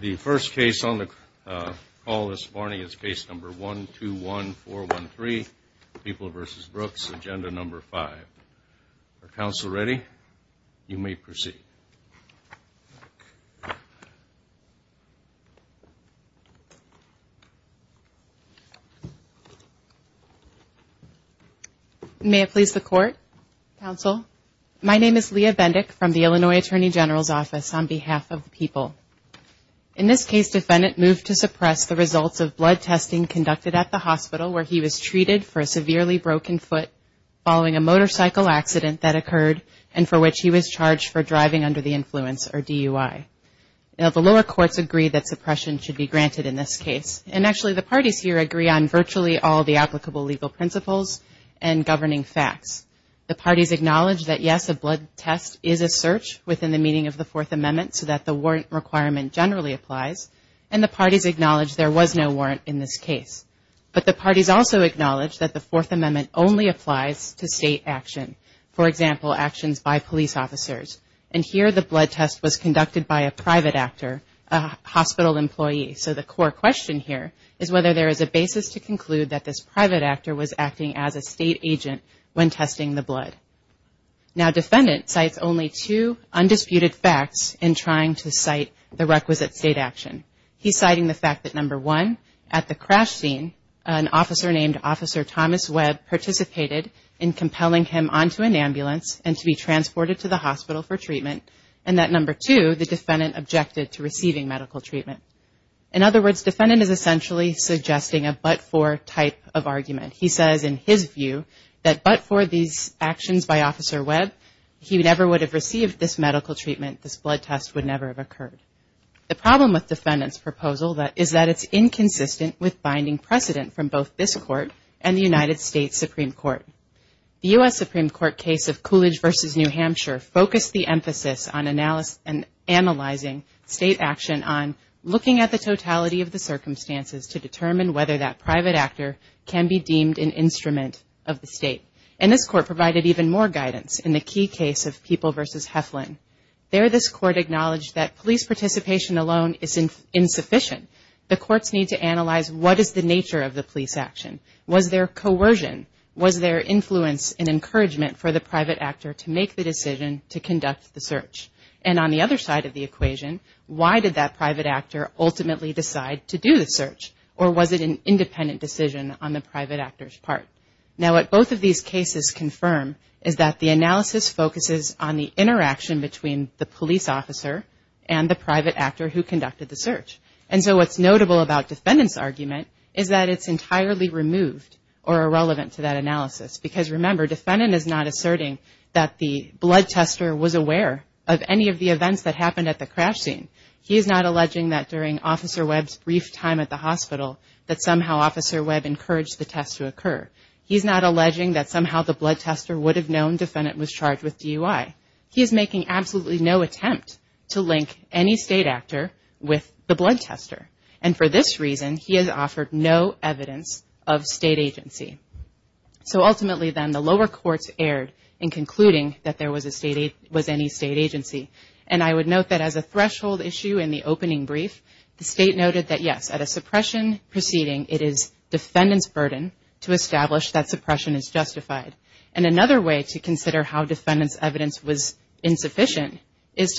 The first case on the call this morning is Case No. 121413, People v. Brooks, Agenda No. 5. Are counsel ready? You may proceed. Leah Bendick May I please the court, counsel? My name is Leah Bendick from the Illinois Attorney General's Office on behalf of the people. In this case, defendant moved to suppress the results of blood testing conducted at the hospital where he was treated for a severely broken foot following a motorcycle accident that occurred and for which he was charged for driving under the influence or DUI. Now, the lower courts agree that suppression should be granted in this case. And actually, the parties here agree on virtually all the applicable legal principles and governing facts. The parties acknowledge that, yes, a blood test is a search within the meaning of the Fourth Amendment so that the warrant requirement generally applies, and the parties acknowledge there was no warrant in this case. But the parties also acknowledge that the Fourth Amendment only applies to state action, for example, actions by police officers. And here the blood test was conducted by a private actor, a hospital employee. So the core question here is whether there is a basis to conclude that this private actor was acting as a state agent when testing the blood. Now, defendant cites only two undisputed facts in trying to cite the requisite state action. He's citing the fact that, number one, at the crash scene, an officer named Officer Thomas Webb participated in compelling him onto an ambulance and to be transported to the hospital for treatment, and that, number two, the defendant objected to receiving medical treatment. In other words, defendant is essentially suggesting a but-for type of argument. He says in his view that but-for these actions by Officer Webb, he never would have received this medical treatment. This blood test would never have occurred. The problem with defendant's proposal is that it's inconsistent with binding precedent from both this court and the United States Supreme Court. The U.S. Supreme Court case of Coolidge v. New Hampshire focused the emphasis on analyzing state action on looking at the totality of the circumstances to determine whether that private actor can be deemed an instrument of the state. And this court provided even more guidance in the key case of People v. Heflin. There, this court acknowledged that police participation alone is insufficient. The courts need to analyze what is the nature of the police action. Was there coercion? Was there influence and encouragement for the private actor to make the decision to conduct the search? And on the other side of the equation, why did that private actor ultimately decide to do the search? Or was it an independent decision on the private actor's part? Now, what both of these cases confirm is that the analysis focuses on the interaction between the police officer and the private actor who conducted the search. And so what's notable about defendant's argument is that it's entirely removed or irrelevant to that analysis. Because, remember, defendant is not asserting that the blood tester was aware of any of the events that happened at the crash scene. He is not alleging that during Officer Webb's brief time at the hospital that somehow Officer Webb encouraged the test to occur. He is not alleging that somehow the blood tester would have known defendant was charged with DUI. He is making absolutely no attempt to link any state actor with the blood tester. And for this reason, he has offered no evidence of state agency. So ultimately, then, the lower courts erred in concluding that there was any state agency. And I would note that as a threshold issue in the opening brief, the state noted that, yes, at a suppression proceeding, it is defendant's burden to establish that suppression is justified. And another way to consider how defendant's evidence was insufficient is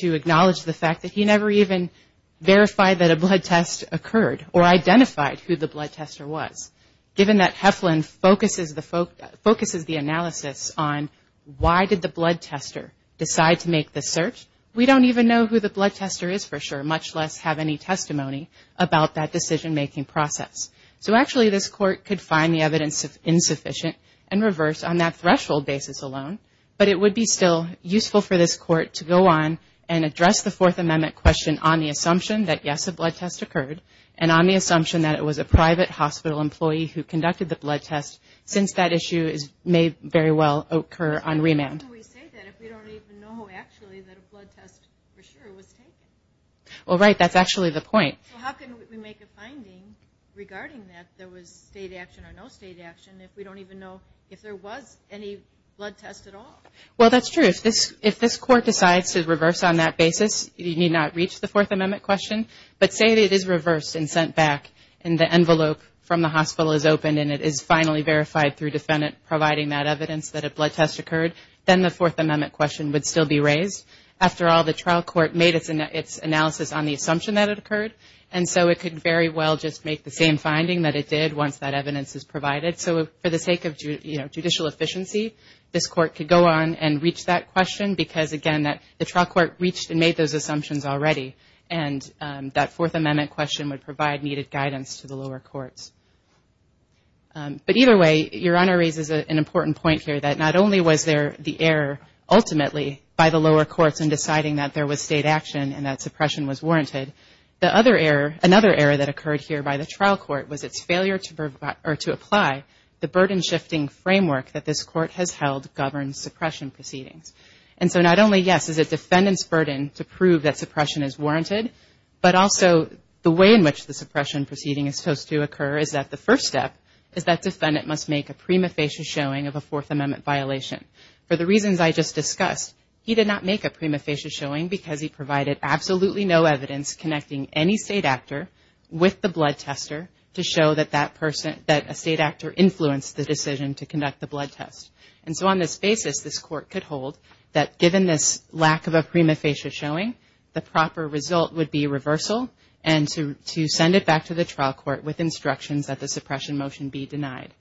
to acknowledge the fact that he never even verified that a blood test occurred or identified who the blood tester was. Given that Heflin focuses the analysis on why did the blood tester decide to make the search, we don't even know who the blood tester is for sure, much less have any testimony about that decision-making process. So actually, this Court could find the evidence insufficient and reverse on that threshold basis alone. But it would be still useful for this Court to go on and address the Fourth Amendment question on the assumption that, yes, a blood test occurred, and on the assumption that it was a private hospital employee who conducted the blood test, since that issue may very well occur on remand. How can we say that if we don't even know actually that a blood test for sure was taken? Well, right, that's actually the point. So how can we make a finding regarding that there was state action or no state action if we don't even know if there was any blood test at all? Well, that's true. If this Court decides to reverse on that basis, you need not reach the Fourth Amendment question, but say that it is reversed and sent back and the envelope from the hospital is open and it is finally verified through defendant providing that evidence that a blood test occurred, then the Fourth Amendment question would still be raised. After all, the trial court made its analysis on the assumption that it occurred, and so it could very well just make the same finding that it did once that evidence is provided. So for the sake of judicial efficiency, this Court could go on and reach that question because, again, the trial court reached and made those assumptions already, and that Fourth Amendment question would provide needed guidance to the lower courts. But either way, Your Honor raises an important point here that not only was there the error ultimately by the lower courts in deciding that there was state action and that suppression was warranted, another error that occurred here by the trial court was its failure to apply the burden-shifting framework that this Court has held governs suppression proceedings. And so not only, yes, is it defendant's burden to prove that suppression is warranted, but also the way in which the suppression proceeding is supposed to occur is that the first step is that defendant must make a prima facie showing of a Fourth Amendment violation. For the reasons I just discussed, he did not make a prima facie showing because he provided absolutely no evidence connecting any state actor with the blood tester to show that that person, that a state actor influenced the decision to conduct the blood test. And so on this basis, this Court could hold that given this lack of a prima facie showing, the proper result would be reversal and to send it back to the trial court with instructions that the suppression motion be denied.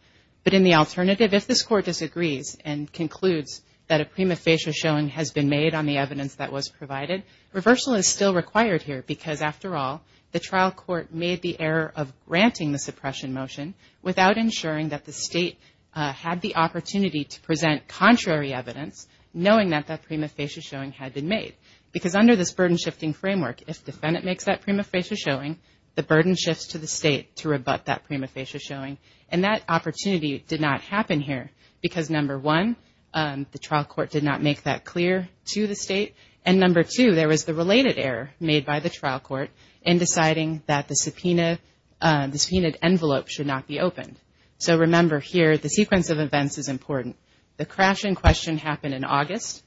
But in the alternative, if this Court disagrees and concludes that a prima facie showing has been made on the evidence that was provided, reversal is still required here. Because after all, the trial court made the error of granting the suppression motion without ensuring that the state had the opportunity to present contrary evidence, knowing that that prima facie showing had been made. Because under this burden-shifting framework, if defendant makes that prima facie showing, the burden shifts to the state to rebut that prima facie showing. And that opportunity did not happen here because, number one, the trial court did not make that clear to the state. And number two, there was the related error made by the trial court in deciding that the subpoenaed envelope should not be opened. So remember here, the sequence of events is important. The crash in question happened in August.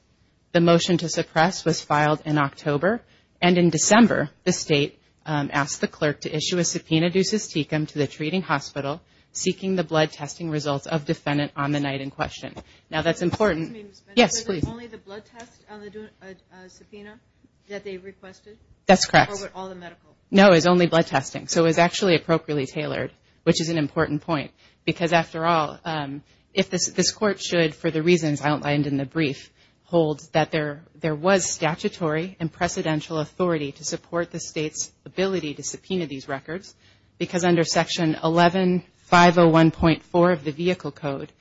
The motion to suppress was filed in October. And in December, the state asked the clerk to issue a subpoena due sys tecum to the treating hospital seeking the blood testing results of defendant on the night in question. Now that's important. Yes, please. Was it only the blood test on the subpoena that they requested? That's correct. Or was it all the medical? No, it was only blood testing. So it was actually appropriately tailored, which is an important point. Because after all, if this Court should, for the reasons outlined in the brief, holds that there was statutory and precedential authority to support the state's ability to subpoena these records, because under Section 11501.4 of the Vehicle Code,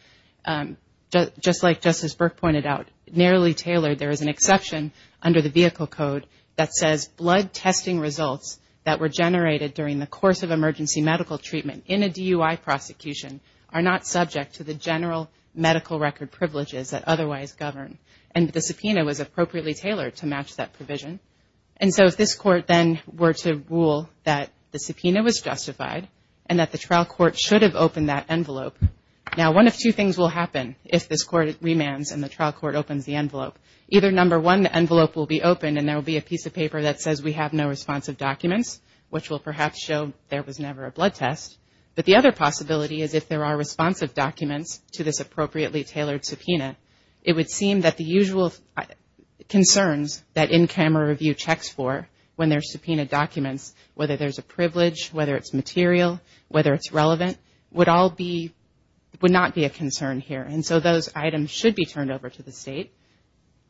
just like Justice Burke pointed out, narrowly tailored there is an exception under the Vehicle Code that says blood testing results that were generated during the course of emergency medical treatment in a DUI prosecution are not subject to the general medical record privileges that otherwise govern. And the subpoena was appropriately tailored to match that provision. And so if this Court then were to rule that the subpoena was justified and that the trial court should have opened that envelope, now one of two things will happen if this Court remands and the trial court opens the envelope. Either, number one, the envelope will be opened and there will be a piece of paper that says we have no responsive documents, which will perhaps show there was never a blood test. But the other possibility is if there are responsive documents to this appropriately tailored subpoena, it would seem that the usual concerns that in-camera review checks for when there's subpoena documents, whether there's a privilege, whether it's material, whether it's relevant, would not be a concern here. And so those items should be turned over to the state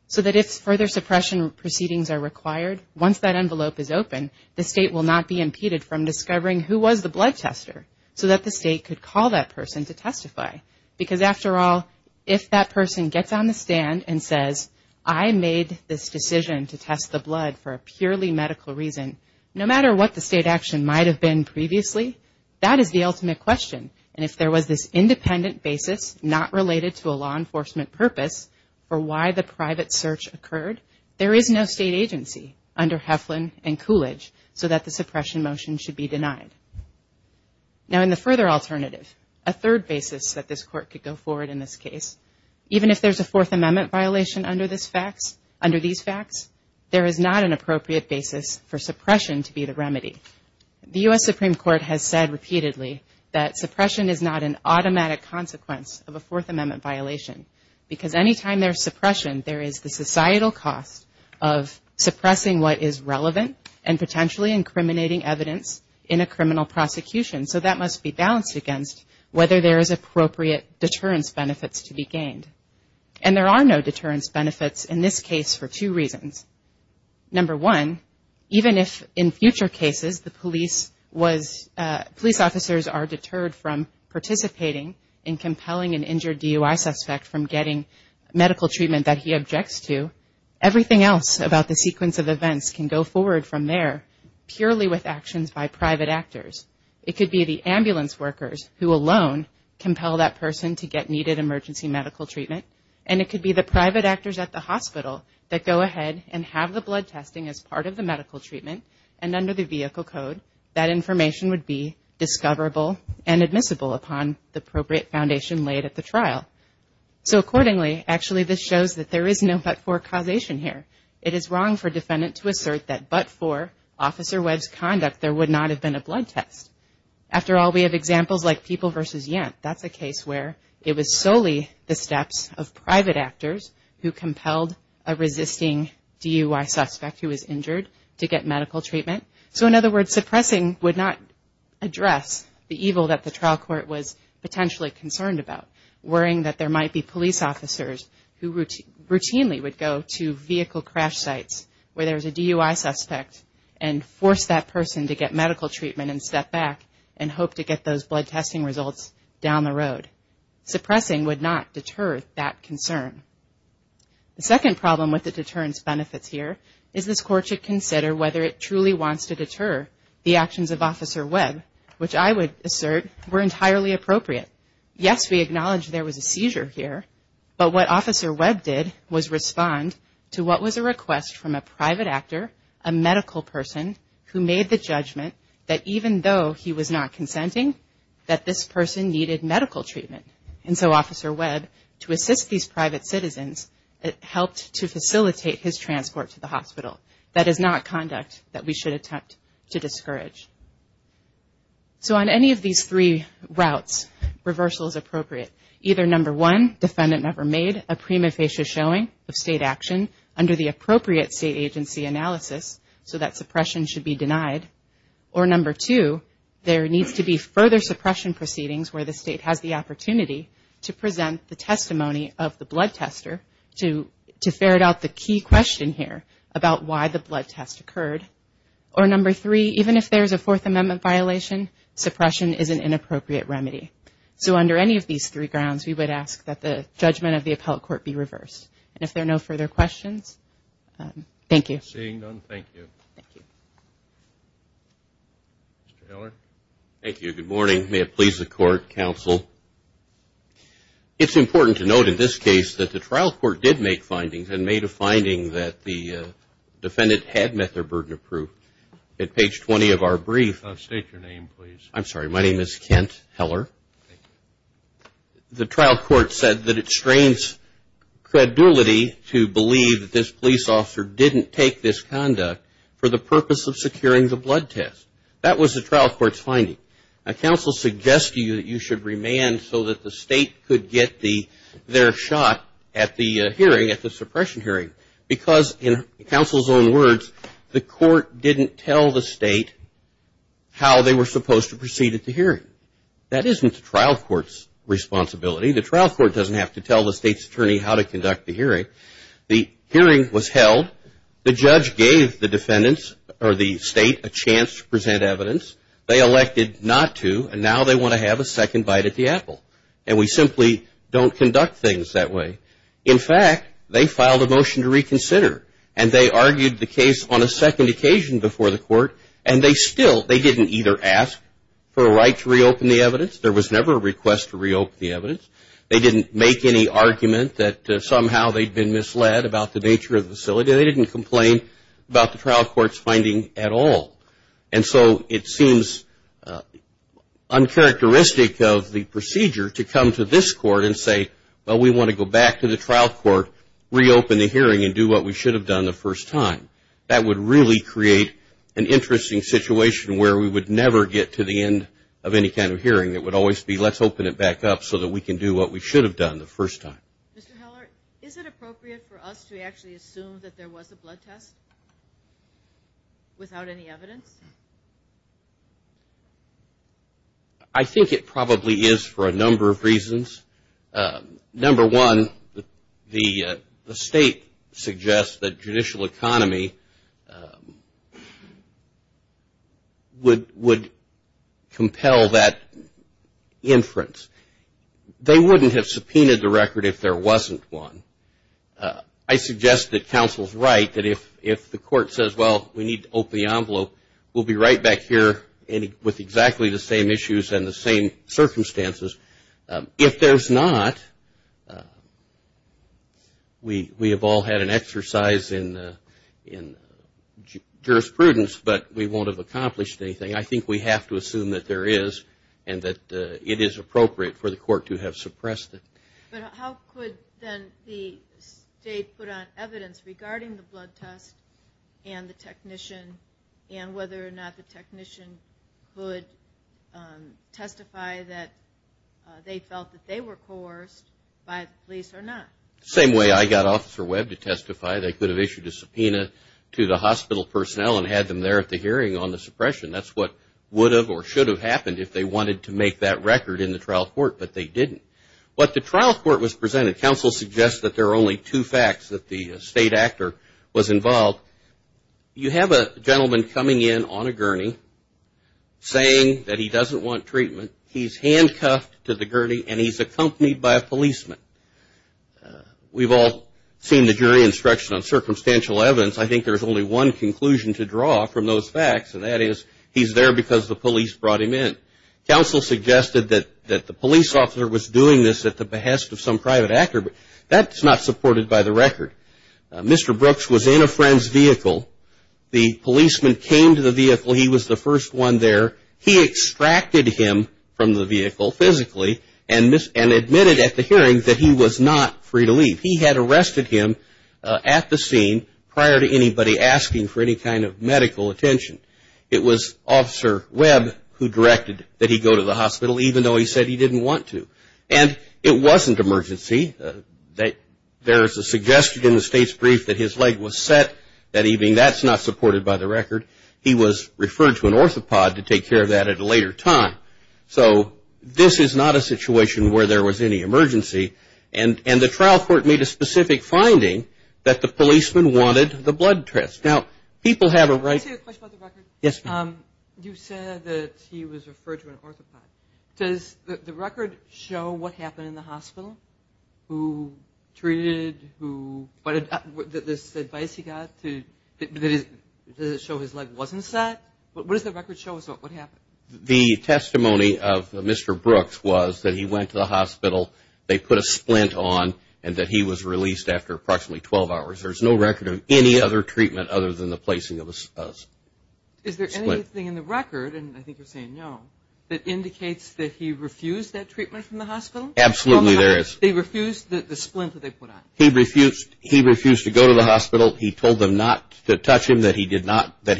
so that if further suppression proceedings are required, once that envelope is open, the state will not be impeded from discovering who was the blood tester so that the state could call that person to testify. Because after all, if that person gets on the stand and says, I made this decision to test the blood for a purely medical reason, no matter what the state action might have been previously, that is the ultimate question. And if there was this independent basis not related to a law enforcement purpose for why the private search occurred, there is no state agency under Heflin and Coolidge so that the suppression motion should be denied. Now in the further alternative, a third basis that this court could go forward in this case, even if there's a Fourth Amendment violation under these facts, there is not an appropriate basis for suppression to be the remedy. The U.S. Supreme Court has said repeatedly that suppression is not an automatic consequence of a Fourth Amendment violation because any time there's suppression, there is the societal cost of suppressing what is relevant and potentially incriminating evidence in a criminal prosecution. So that must be balanced against whether there is appropriate deterrence benefits to be gained. And there are no deterrence benefits in this case for two reasons. Number one, even if in future cases the police officers are deterred from participating in compelling an injured DUI suspect from getting medical treatment that he objects to, everything else about the sequence of events can go forward from there purely with actions by private actors. It could be the ambulance workers who alone compel that person to get needed emergency medical treatment. And it could be the private actors at the hospital that go ahead and have the blood testing as part of the medical treatment. And under the vehicle code, that information would be discoverable and admissible upon the appropriate foundation laid at the trial. So accordingly, actually this shows that there is no but-for causation here. It is wrong for a defendant to assert that but-for Officer Webb's conduct there would not have been a blood test. After all, we have examples like People v. Yent. That's a case where it was solely the steps of private actors who compelled a resisting DUI suspect who was injured to get medical treatment. So in other words, suppressing would not address the evil that the trial court was potentially concerned about, worrying that there might be police officers who routinely would go to vehicle crash sites where there's a DUI suspect and force that person to get medical treatment and step back and hope to get those blood testing results down the road. Suppressing would not deter that concern. The second problem with the deterrence benefits here is this court should consider whether it truly wants to deter the actions of Officer Webb, which I would assert were entirely appropriate. Yes, we acknowledge there was a seizure here. But what Officer Webb did was respond to what was a request from a private actor, a medical person who made the judgment that even though he was not consenting, that this person needed medical treatment. And so Officer Webb, to assist these private citizens, helped to facilitate his transport to the hospital. That is not conduct that we should attempt to discourage. So on any of these three routes, reversal is appropriate. Either number one, defendant never made a prima facie showing of state action under the appropriate state agency analysis, so that suppression should be denied. Or number two, there needs to be further suppression proceedings where the state has the opportunity to present the testimony of the blood tester to ferret out the key question here about why the blood test occurred. Or number three, even if there's a Fourth Amendment violation, suppression is an inappropriate remedy. So under any of these three grounds, we would ask that the judgment of the appellate court be reversed. And if there are no further questions, thank you. Seeing none, thank you. Mr. Heller. Thank you. Good morning. May it please the Court, Counsel. It's important to note in this case that the trial court did make findings and made a finding that the defendant had met their burden of proof. At page 20 of our brief. State your name, please. I'm sorry. My name is Kent Heller. The trial court said that it strains credibility to believe that this police officer didn't take this conduct for the purpose of securing the blood test. That was the trial court's finding. Now, counsel suggests to you that you should remand so that the state could get their shot at the hearing, at the suppression hearing, because in counsel's own words, the court didn't tell the state how they were supposed to proceed at the hearing. That isn't the trial court's responsibility. The trial court doesn't have to tell the state's attorney how to conduct the hearing. The hearing was held. The judge gave the defendant or the state a chance to present evidence. They elected not to. And now they want to have a second bite at the apple. And we simply don't conduct things that way. In fact, they filed a motion to reconsider. And they argued the case on a second occasion before the court. And they still, they didn't either ask for a right to reopen the evidence. There was never a request to reopen the evidence. They didn't make any argument that somehow they'd been misled about the nature of the facility. They didn't complain about the trial court's finding at all. And so it seems uncharacteristic of the procedure to come to this court and say, well, we want to go back to the trial court, reopen the hearing, and do what we should have done the first time. That would really create an interesting situation where we would never get to the end of any kind of hearing. It would always be, let's open it back up so that we can do what we should have done the first time. Mr. Heller, is it appropriate for us to actually assume that there was a blood test without any evidence? I think it probably is for a number of reasons. Number one, the state suggests that judicial economy would compel that inference. They wouldn't have subpoenaed the record if there wasn't one. I suggest that counsel's right that if the court says, well, we need to open the envelope, we'll be right back here with exactly the same issues and the same circumstances. If there's not, we have all had an exercise in jurisprudence, but we won't have accomplished anything. I think we have to assume that there is and that it is appropriate for the court to have suppressed it. But how could then the state put on evidence regarding the blood test and the technician and whether or not the technician could testify that there was a blood test and they felt that they were coerced by the police or not? The same way I got Officer Webb to testify, they could have issued a subpoena to the hospital personnel and had them there at the hearing on the suppression. That's what would have or should have happened if they wanted to make that record in the trial court, but they didn't. What the trial court was presented, counsel suggests that there are only two facts that the state actor was involved. You have a gentleman coming in on a gurney saying that he doesn't want treatment. He's handcuffed to the gurney and he's accompanied by a policeman. We've all seen the jury instruction on circumstantial evidence. I think there's only one conclusion to draw from those facts, and that is he's there because the police brought him in. Counsel suggested that the police officer was doing this at the behest of some private actor, but that's not supported by the record. Mr. Brooks was in a friend's vehicle. The policeman came to the vehicle. He was the first one there. He extracted him from the vehicle physically and admitted at the hearing that he was not free to leave. He had arrested him at the scene prior to anybody asking for any kind of medical attention. It was Officer Webb who directed that he go to the hospital, even though he said he didn't want to. And it wasn't emergency. There's a suggestion in the state's brief that his leg was set. That's not supported by the record. He was referred to an orthopod to take care of that at a later time. So this is not a situation where there was any emergency, and the trial court made a specific finding that the policeman wanted the blood test. Now, people have a right to question. You said that he was referred to an orthopod. Is there anything in the record that indicates that he refused that treatment from the hospital? Absolutely there is. He refused to go to the hospital. He told them not to touch him, that he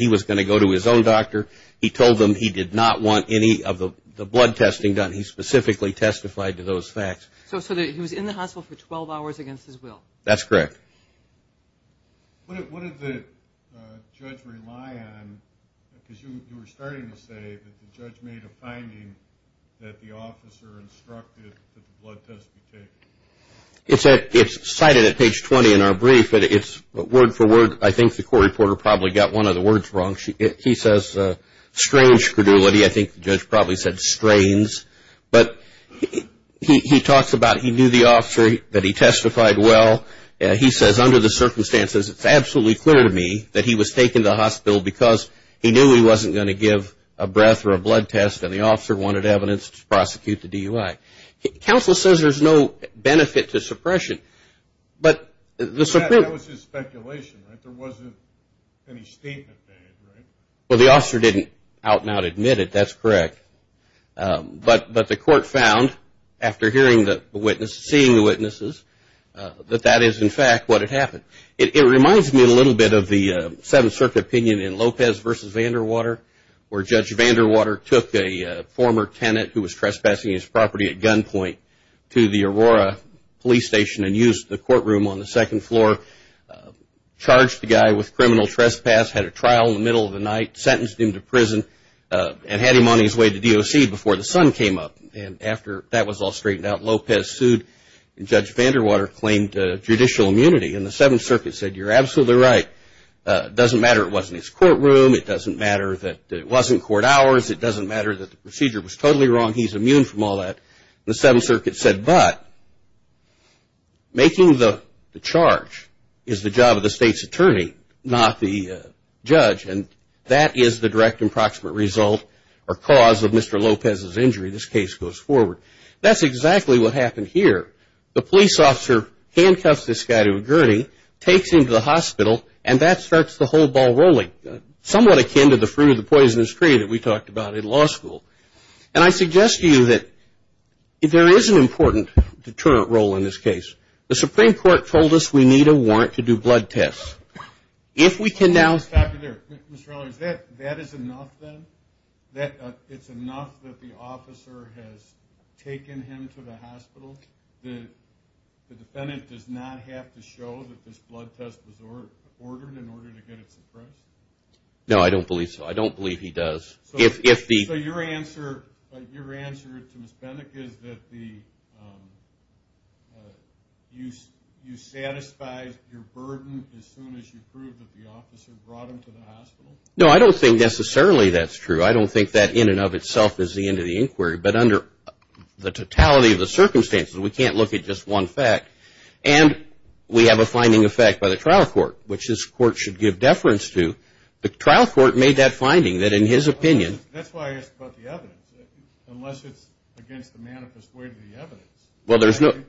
was going to go to his own doctor. He told them he did not want any of the blood testing done. He specifically testified to those facts. So he was in the hospital for 12 hours against his will. That's correct. What did the judge rely on? Because you were starting to say that the judge made a finding that the officer instructed that the blood test be taken. It's cited at page 20 in our brief. But word for word, I think the court reporter probably got one of the words wrong. He says strange credulity. I think the judge probably said strains. But he talks about he knew the officer, that he testified well. He says under the circumstances, it's absolutely clear to me that he was taken to the hospital because he knew he wasn't going to give a breath or a blood test and the officer wanted evidence to prosecute the DUI. Counsel says there's no benefit to suppression. That was just speculation. Well, the officer didn't out and out admit it. That's correct. But the court found after hearing the witness, seeing the witnesses, that that is in fact what had happened. It reminds me a little bit of the Seventh Circuit opinion in Lopez v. Vanderwater where Judge Vanderwater took a former tenant who was trespassing his property at gunpoint to the Aurora Police Station and used the courtroom on the second floor, charged the guy with criminal trespass, had a trial in the middle of the night, sentenced him to prison, and had him on his way to DOC before the sun came up. And after that was all straightened out, Lopez sued and Judge Vanderwater claimed judicial immunity. And the Seventh Circuit said you're absolutely right. It doesn't matter it wasn't his courtroom. It doesn't matter that it wasn't court hours. It doesn't matter that the procedure was totally wrong. He's immune from all that. And the Seventh Circuit said, but making the charge is the job of the state's attorney, not the judge. And that is the direct and proximate result or cause of Mr. Lopez's injury. This case goes forward. That's exactly what happened here. The police officer handcuffs this guy to a gurney, takes him to the hospital, and that starts the whole ball rolling. Somewhat akin to the fruit of the poisonous tree that we talked about in law school. And I suggest to you that there is an important role in this case. The Supreme Court told us we need a warrant to do blood tests. That is enough then? It's enough that the officer has taken him to the hospital? The defendant does not have to show that this blood test was ordered in order to get it suppressed? No, I don't believe so. I don't believe he does. So your answer to Ms. Benick is that you satisfied your burden as soon as you proved that the officer brought him to the hospital? No, I don't think necessarily that's true. I don't think that in and of itself is the end of the inquiry. But under the totality of the circumstances, we can't look at just one fact. And we have a finding of fact by the trial court, which this court should give deference to. The trial court made that finding that in his opinion... That's why I asked about the evidence, unless it's against the manifest way of the evidence.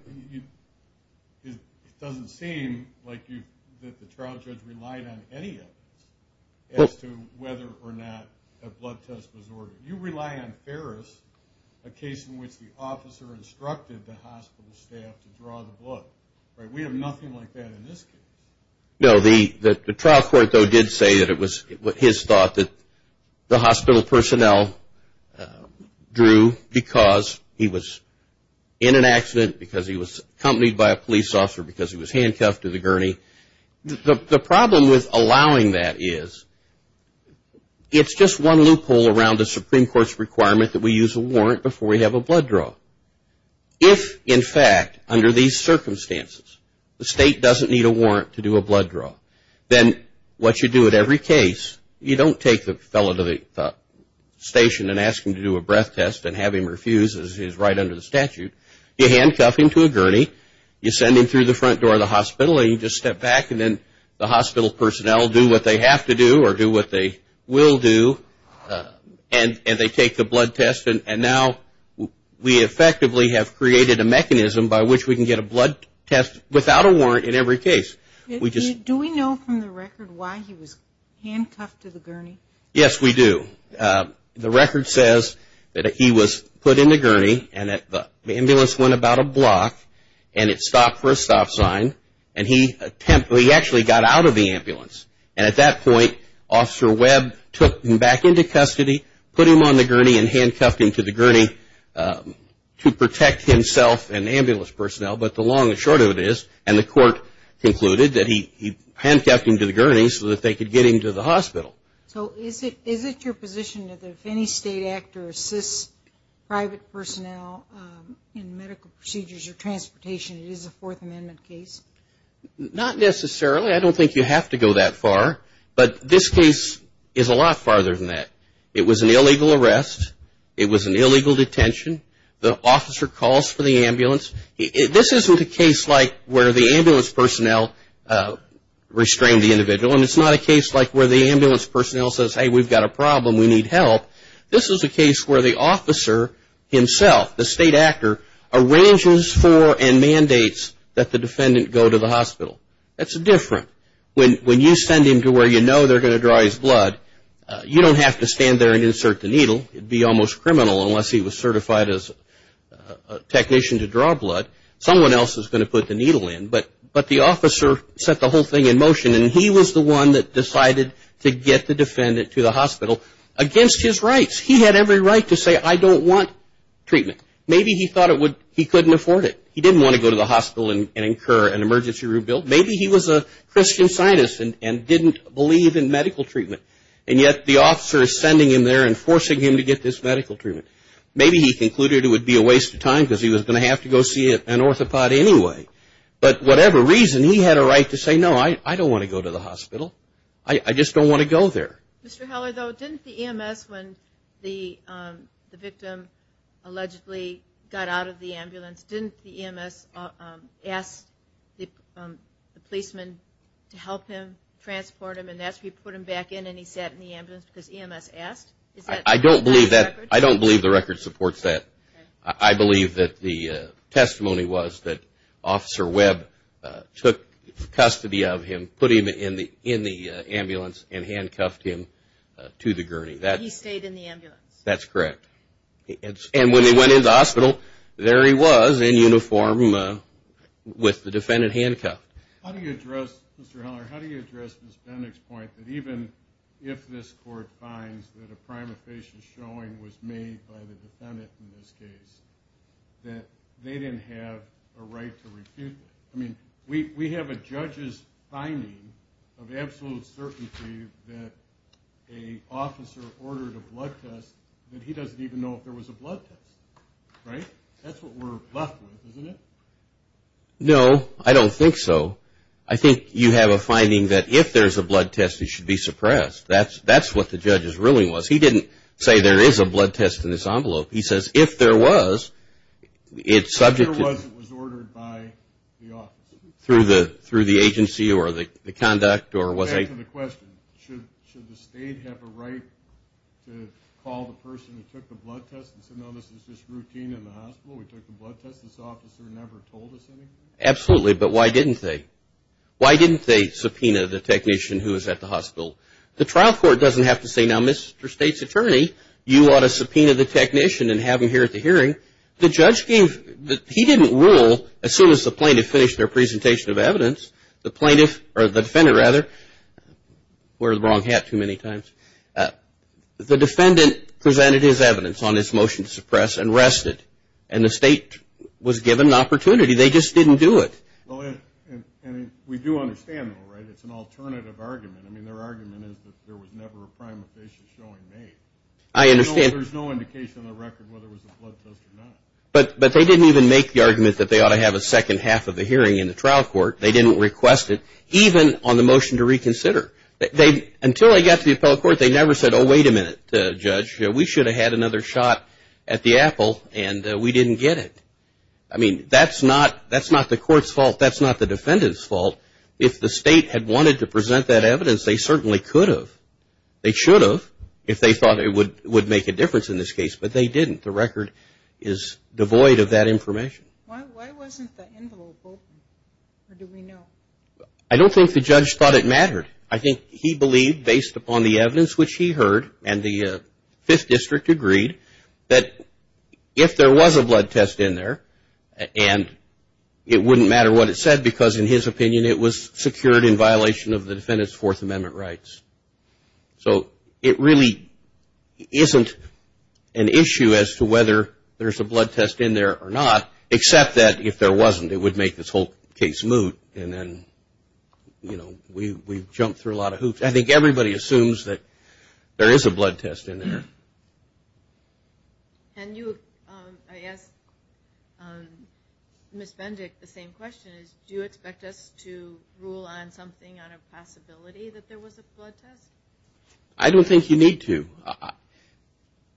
It doesn't seem like the trial judge relied on any evidence as to whether or not a blood test was ordered. You rely on Ferris, a case in which the officer instructed the hospital staff to draw the blood. We have nothing like that in this case. No, the trial court, though, did say that it was his thought that the hospital personnel drew because he was in an accident, because he was accompanied by a police officer, because he was handcuffed to the gurney. The problem with allowing that is it's just one loophole around the Supreme Court's requirement that we use a warrant before we have a blood draw. If, in fact, under these circumstances, the state doesn't need a warrant to do a blood draw, then what you do at every case, you don't take the fellow to the station and ask him to do a breath test and have him refuse, as is right under the statute. You handcuff him to a gurney, you send him through the front door of the hospital, and you just step back, and then the hospital personnel do what they have to do or do what they will do, and they take the blood test. And now we effectively have created a mechanism by which we can get a blood test without a warrant in every case. Do we know from the record why he was handcuffed to the gurney? Yes, we do. The record says that he was put in the gurney, and the ambulance went about a block, and it stopped for a stop sign, and he actually got out of the ambulance. And at that point, Officer Webb took him back into custody, put him on the gurney, and handcuffed him to the gurney to protect himself and the ambulance personnel. But the long and short of it is, and the court concluded, that he handcuffed him to the gurney so that they could get him to the hospital. So is it your position that if any state actor assists private personnel in medical procedures or transportation, it is a Fourth Amendment case? Not necessarily. I don't think you have to go that far, but this case is a lot farther than that. It was an illegal arrest. It was an illegal detention. The officer calls for the ambulance. This isn't a case like where the ambulance personnel restrain the individual, and it's not a case like where the ambulance personnel says, hey, we've got a problem, we need help. This is a case where the officer himself, the state actor, arranges for and mandates that the defendant go to the hospital. That's different. When you send him to where you know they're going to draw his blood, you don't have to stand there and insert the needle. It would be almost criminal unless he was certified as a technician to draw blood. Someone else is going to put the needle in, but the officer set the whole thing in motion, and he was the one that decided to get the defendant to the hospital against his rights. He had every right to say, I don't want treatment. Maybe he thought he couldn't afford it. He didn't want to go to the hospital and incur an emergency room bill. Maybe he was a Christian scientist and didn't believe in medical treatment, and yet the officer is sending him there and forcing him to get this medical treatment. Maybe he concluded it would be a waste of time because he was going to have to go see an orthopod anyway. But whatever reason, he had a right to say, no, I don't want to go to the hospital. I just don't want to go there. Mr. Heller, though, didn't the EMS, when the victim allegedly got out of the ambulance, didn't the EMS ask the policeman to help him transport him and that's where you put him back in and he sat in the ambulance because EMS asked? I don't believe the record supports that. I believe that the testimony was that Officer Webb took custody of him, put him in the ambulance and handcuffed him to the gurney. He stayed in the ambulance? That's correct. And when he went into the hospital, there he was in uniform with the defendant handcuffed. How do you address, Mr. Heller, how do you address Ms. Bendick's point that even if this court finds that a prima facie showing was made by the defendant in this case, that they didn't have a right to refute it? I mean, we have a judge's finding of absolute certainty that an officer ordered a blood test and he doesn't even know if there was a blood test, right? That's what we're left with, isn't it? No, I don't think so. I think you have a finding that if there's a blood test, it should be suppressed. That's what the judge's ruling was. He didn't say there is a blood test in this envelope. He says if there was, it's subject to... If there was, it was ordered by the office. Through the agency or the conduct or was a... Back to the question, should the state have a right to call the person who took the blood test and say, no, this is just routine in the hospital? Absolutely, but why didn't they? Why didn't they subpoena the technician who was at the hospital? The trial court doesn't have to say, now, Mr. State's attorney, you ought to subpoena the technician and have him here at the hearing. The judge gave... He didn't rule, as soon as the plaintiff finished their presentation of evidence, or the defendant, rather. The defendant presented his evidence on his motion to suppress and rested, and the state was given an opportunity. They just didn't do it. Well, and we do understand, though, right? It's an alternative argument. I mean, their argument is that there was never a prima facie showing made. There's no indication on the record whether it was a blood test or not. But they didn't even make the argument that they ought to have a second half of the hearing in the trial court. They didn't request it, even on the motion to reconsider. Until they got to the appellate court, they never said, oh, wait a minute, judge, we should have had another shot at the apple, and we didn't get it. I mean, that's not the court's fault. That's not the defendant's fault. If the state had wanted to present that evidence, they certainly could have. They should have, if they thought it would make a difference in this case. But they didn't. The record is devoid of that information. I think he believed, based upon the evidence which he heard, and the Fifth District agreed, that if there was a blood test in there, and it wouldn't matter what it said, because in his opinion it was secured in violation of the defendant's Fourth Amendment rights. So it really isn't an issue as to whether there's a blood test in there or not, except that if there wasn't, it would make this whole case moot. And then we've jumped through a lot of hoops. I think everybody assumes that there is a blood test in there. And I asked Ms. Bendick the same question. Do you expect us to rule on something on a possibility that there was a blood test? I don't think you need to.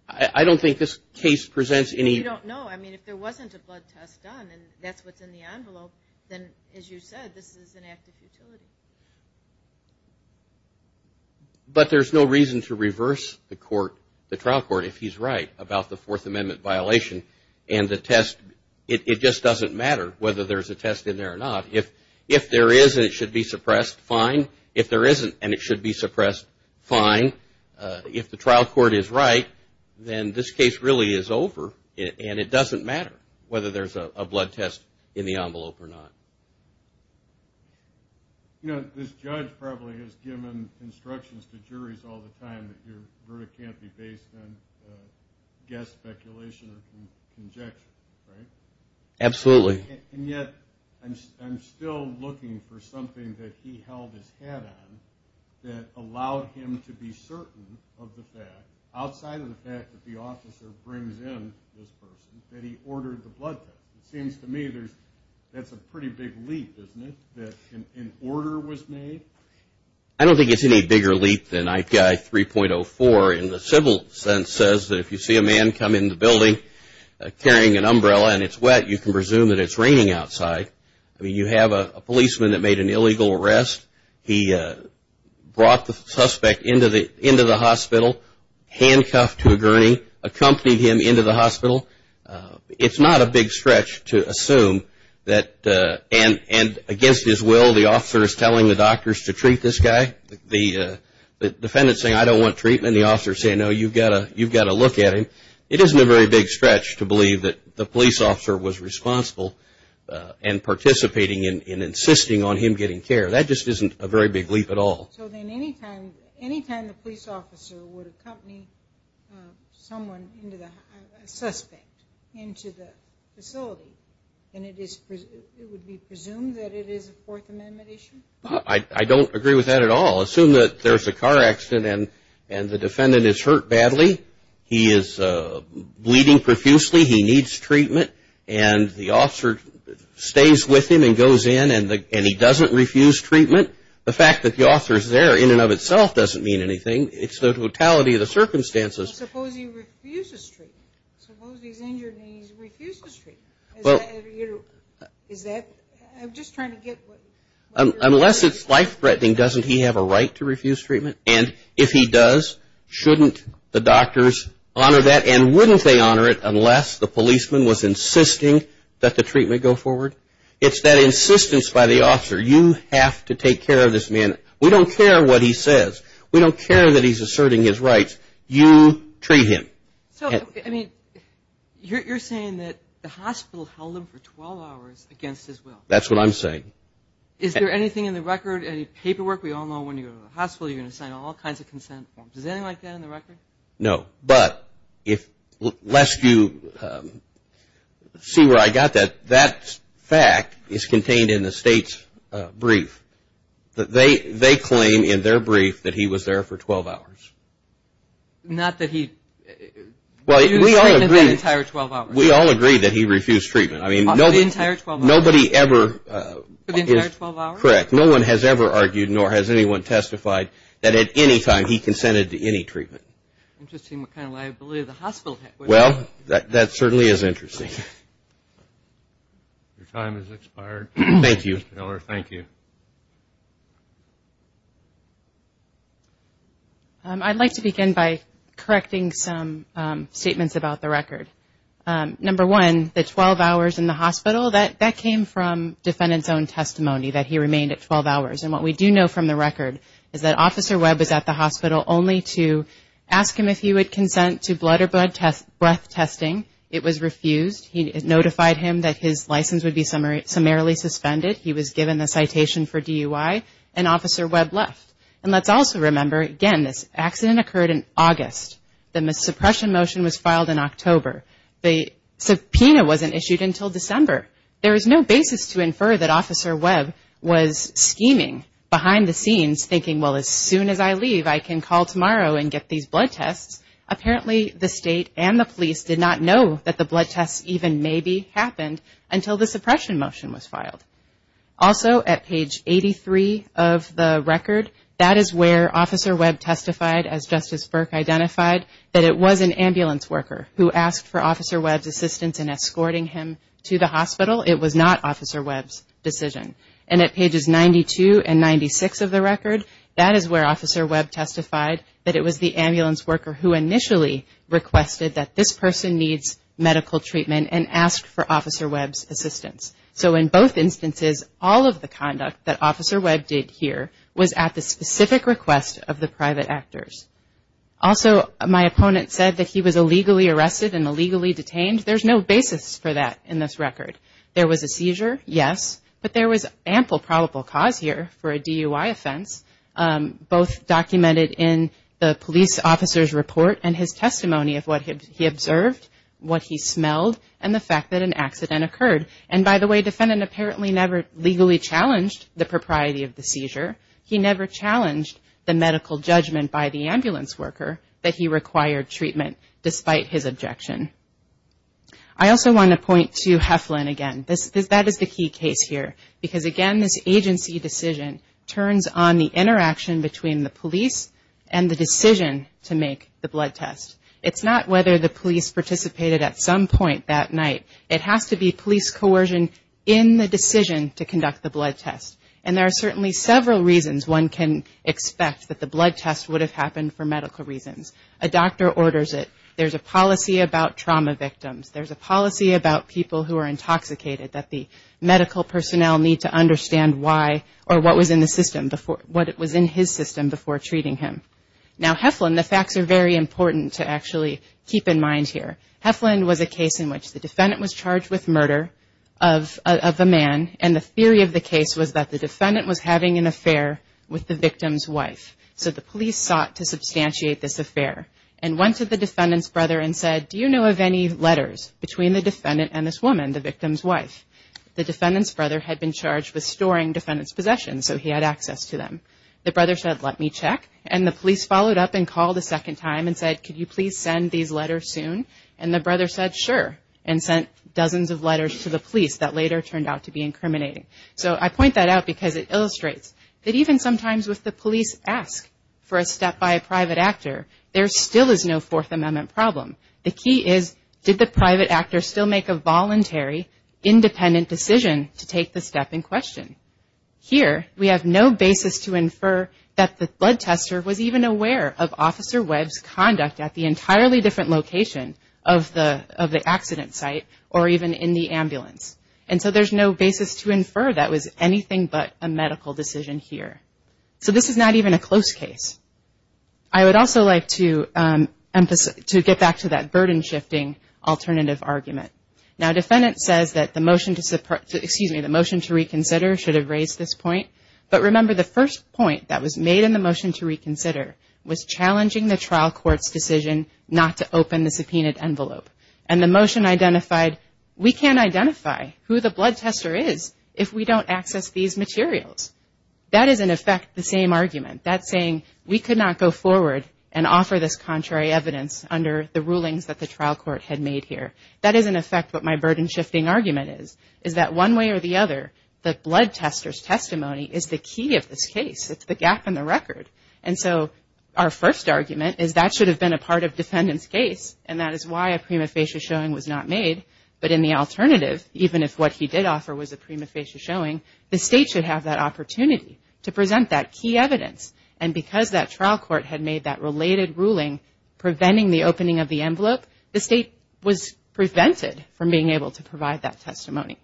I don't think this case presents any... You don't know. If there wasn't a blood test done, and that's what's in the envelope, then as you said, this is an act of futility. But there's no reason to reverse the trial court if he's right about the Fourth Amendment violation. And the test, it just doesn't matter whether there's a test in there or not. If there is and it should be suppressed, fine. If there isn't and it should be suppressed, fine. If the trial court is right, then this case really is over. And it doesn't matter whether there's a blood test in the envelope or not. You know, this judge probably has given instructions to juries all the time that your verdict can't be based on guess, speculation, or conjecture, right? Absolutely. And yet I'm still looking for something that he held his hat on that allowed him to be certain of the fact, outside of the fact that the officer brings in this person, that he ordered the blood test. It seems to me that's a pretty big leap, isn't it, that an order was made? I don't think it's any bigger leap than IPI 3.04 in the civil sense says that if you see a man come in the building carrying an umbrella and it's wet, you can presume that it's raining outside. I mean, you have a policeman that made an illegal arrest. He brought the suspect into the hospital, handcuffed to a gurney, accompanied him into the hospital. It's not a big stretch to assume that, and against his will, the officer is telling the doctors to treat this guy. The defendant is saying, I don't want treatment, and the officer is saying, no, you've got to look at him. It isn't a very big stretch to believe that the police officer was responsible and participating in insisting on him getting care. That just isn't a very big leap at all. So then anytime the police officer would accompany someone, a suspect, into the facility, then it would be presumed that it is a Fourth Amendment issue? I don't agree with that at all. Assume that there's a car accident and the defendant is hurt badly, he is bleeding profusely, he needs treatment, and the officer stays with him and goes in, and he doesn't refuse treatment. The fact that the officer is there in and of itself doesn't mean anything. It's the totality of the circumstances. Unless it's life-threatening, doesn't he have a right to refuse treatment? And if he does, shouldn't the doctors honor that? And wouldn't they honor it unless the policeman was insisting that the treatment go forward? It's that insistence by the officer, you have to take care of this man. We don't care what he says. We don't care that he's asserting his rights. You treat him. So, I mean, you're saying that the hospital held him for 12 hours against his will? That's what I'm saying. No, but unless you see where I got that, that fact is contained in the state's brief. They claim in their brief that he was there for 12 hours. Not that he refused treatment for the entire 12 hours? We all agree that he refused treatment. For the entire 12 hours? Correct. No one has ever argued, nor has anyone testified, that at any time he consented to any treatment. Interesting what kind of liability the hospital had. Well, that certainly is interesting. Your time has expired. I'd like to begin by correcting some statements about the record. Number one, the 12 hours in the hospital, that came from defendant's own testimony, that he remained at 12 hours. And what we do know from the record is that Officer Webb is at the hospital only to ask him if he would consent to blood or breath testing. It was refused. He notified him that his license would be summarily suspended. He was given a citation for DUI, and Officer Webb left. And let's also remember, again, this accident occurred in August. The suppression motion was filed in October. The subpoena wasn't issued until December. There is no basis to infer that Officer Webb was scheming behind the scenes, thinking, well, as soon as I leave, I can call tomorrow and get these blood tests. Apparently, the state and the police did not know that the blood tests even maybe happened until the suppression motion was filed. Also, at page 83 of the record, that is where Officer Webb testified, as Justice Burke identified, that it was an ambulance worker who asked for Officer Webb's assistance in escorting him to the hospital. It was not Officer Webb's decision. And at pages 92 and 96 of the record, that is where Officer Webb testified that it was the ambulance worker who initially requested that this person needs medical treatment and asked for Officer Webb's assistance. So in both instances, all of the conduct that Officer Webb did here was at the specific request of the private actors. Also, my opponent said that he was illegally arrested and illegally detained. There is no basis for that in this record. There was a seizure, yes, but there was ample probable cause here for a DUI offense, both documented in the police officer's report and his testimony of what he observed, what he smelled, and the fact that an accident occurred. And by the way, defendant apparently never legally challenged the propriety of the seizure. He never challenged the medical judgment by the ambulance worker that he required treatment, despite his objection. I also want to point to Heflin again. That is the key case here. Because again, this agency decision turns on the interaction between the police and the decision to make the blood test. It's not whether the police participated at some point that night. It has to be police coercion in the decision to conduct the blood test. And there are certainly several reasons one can expect that the blood test would have happened for medical reasons. A doctor orders it, there's a policy about trauma victims, there's a policy about people who are intoxicated that the medical personnel need to understand why or what was in the system, what was in his system before treating him. Now Heflin, the facts are very important to actually keep in mind here. Heflin was a case in which the defendant was charged with murder of a man, and the theory of the case was that the defendant was having an affair with the victim's wife. So the police sought to substantiate this affair and went to the defendant's brother and said, do you know of any letters between the defendant and this woman, the victim's wife? The defendant's brother had been charged with storing defendant's possessions, so he had access to them. The brother said, let me check. And the police followed up and called a second time and said, could you please send these letters soon? And the brother said, sure, and sent dozens of letters to the police that later turned out to be incriminating. So I point that out because it illustrates that even sometimes if the police ask for a step by a private actor, there still is no Fourth Amendment problem. The key is, did the private actor still make a voluntary, independent decision to take the step in question? Here, we have no basis to infer that the blood tester was even aware of Officer Webb's conduct at the entirely different location of the accident site or even in the ambulance. And so there's no basis to infer that was anything but a medical decision here. So this is not even a close case. I would also like to get back to that burden-shifting alternative argument. Now, defendant says that the motion to reconsider should have raised this point. But remember, the first point that was made in the motion to reconsider was challenging the trial court's decision not to open the subpoenaed envelope. And the motion identified, we can't identify who the blood tester is if we don't access these materials. That is, in effect, the same argument. That's saying we could not go forward and offer this contrary evidence under the rulings that the trial court had made here. That is, in effect, what my burden-shifting argument is, is that one way or the other, the blood tester's testimony is the key of this case. It's the gap in the record. And so our first argument is that should have been a part of defendant's case, and that is why a prima facie showing was not made. But in the alternative, even if what he did offer was a prima facie showing, the state should have that opportunity to present that key evidence. And because that trial court had made that related ruling preventing the opening of the envelope, the state was prevented from being able to provide that testimony.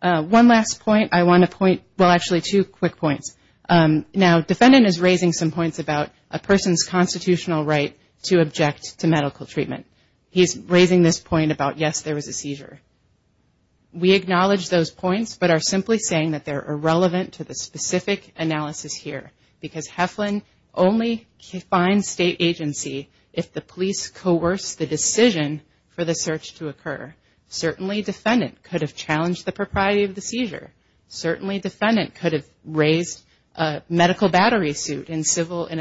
One last point, I want to point, well, actually two quick points. Now, defendant is raising some points about a person's constitutional right to object to medical treatment. He's raising this point about, yes, there was a seizure. We acknowledge those points, but are simply saying that they're irrelevant to the specific analysis here, because Heflin only finds state agency if the police coerce the decision for the search to occur. Certainly defendant could have challenged the propriety of the seizure. Certainly defendant could have raised a medical battery suit in a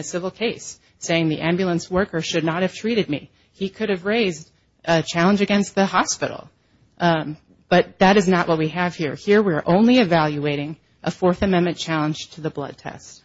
civil case, saying the ambulance worker should not have treated me. But that is not what we have here. Here we're only evaluating a Fourth Amendment challenge to the blood test.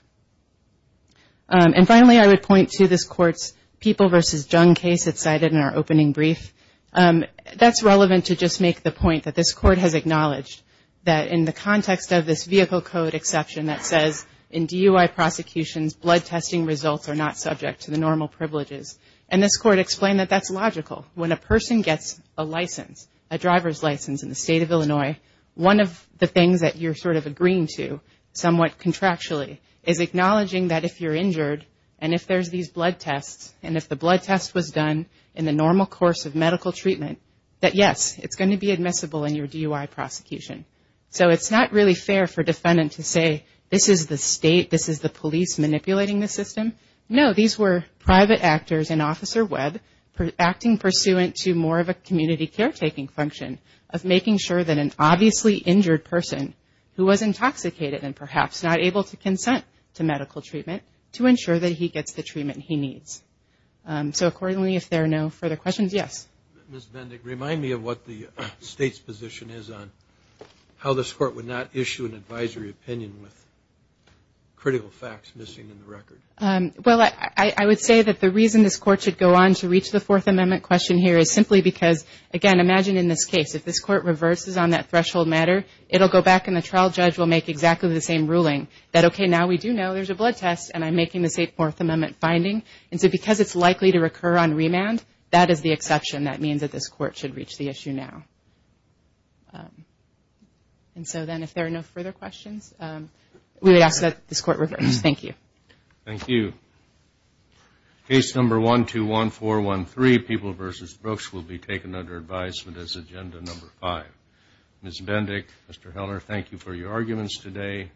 And finally, I would point to this court's People v. Jung case that's cited in our opening brief. That's relevant to just make the point that this court has acknowledged that in the context of this vehicle code exception that says in DUI prosecutions, blood testing results are not subject to the normal privileges. And this court explained that that's logical. When a person gets a license, a driver's license in the state of Illinois, one of the things that you're sort of agreeing to somewhat contractually is acknowledging that if you're injured, and if there's these blood tests, and if the blood test was done in the normal course of medical treatment, that yes, it's going to be admissible in your DUI prosecution. So it's not really fair for defendant to say, this is the state, this is the police manipulating the system. No, these were private actors in Officer Webb acting pursuant to more of a community caretaking function of making sure that an obviously injured person who was intoxicated and perhaps not able to consent to medical treatment to ensure that he gets the treatment he needs. So accordingly, if there are no further questions, yes. Ms. Bendig, remind me of what the state's position is on how this court would not issue an advisory opinion with critical facts missing in the record. Well, I would say that the reason this court should go on to reach the Fourth Amendment question here is simply because, again, imagine in this case, if this court reverses on that threshold matter, it'll go back and the trial judge will make exactly the same ruling. That, okay, now we do know there's a blood test, and I'm making the same Fourth Amendment finding. And so because it's likely to recur on remand, that is the exception. That means that this court should reach the issue now. And so then if there are no further questions, we would ask that this court reverse. Thank you. Thank you. Case number 121413, People v. Brooks, will be taken under advisement as agenda number five. Ms. Bendig, Mr. Heller, thank you for your arguments today.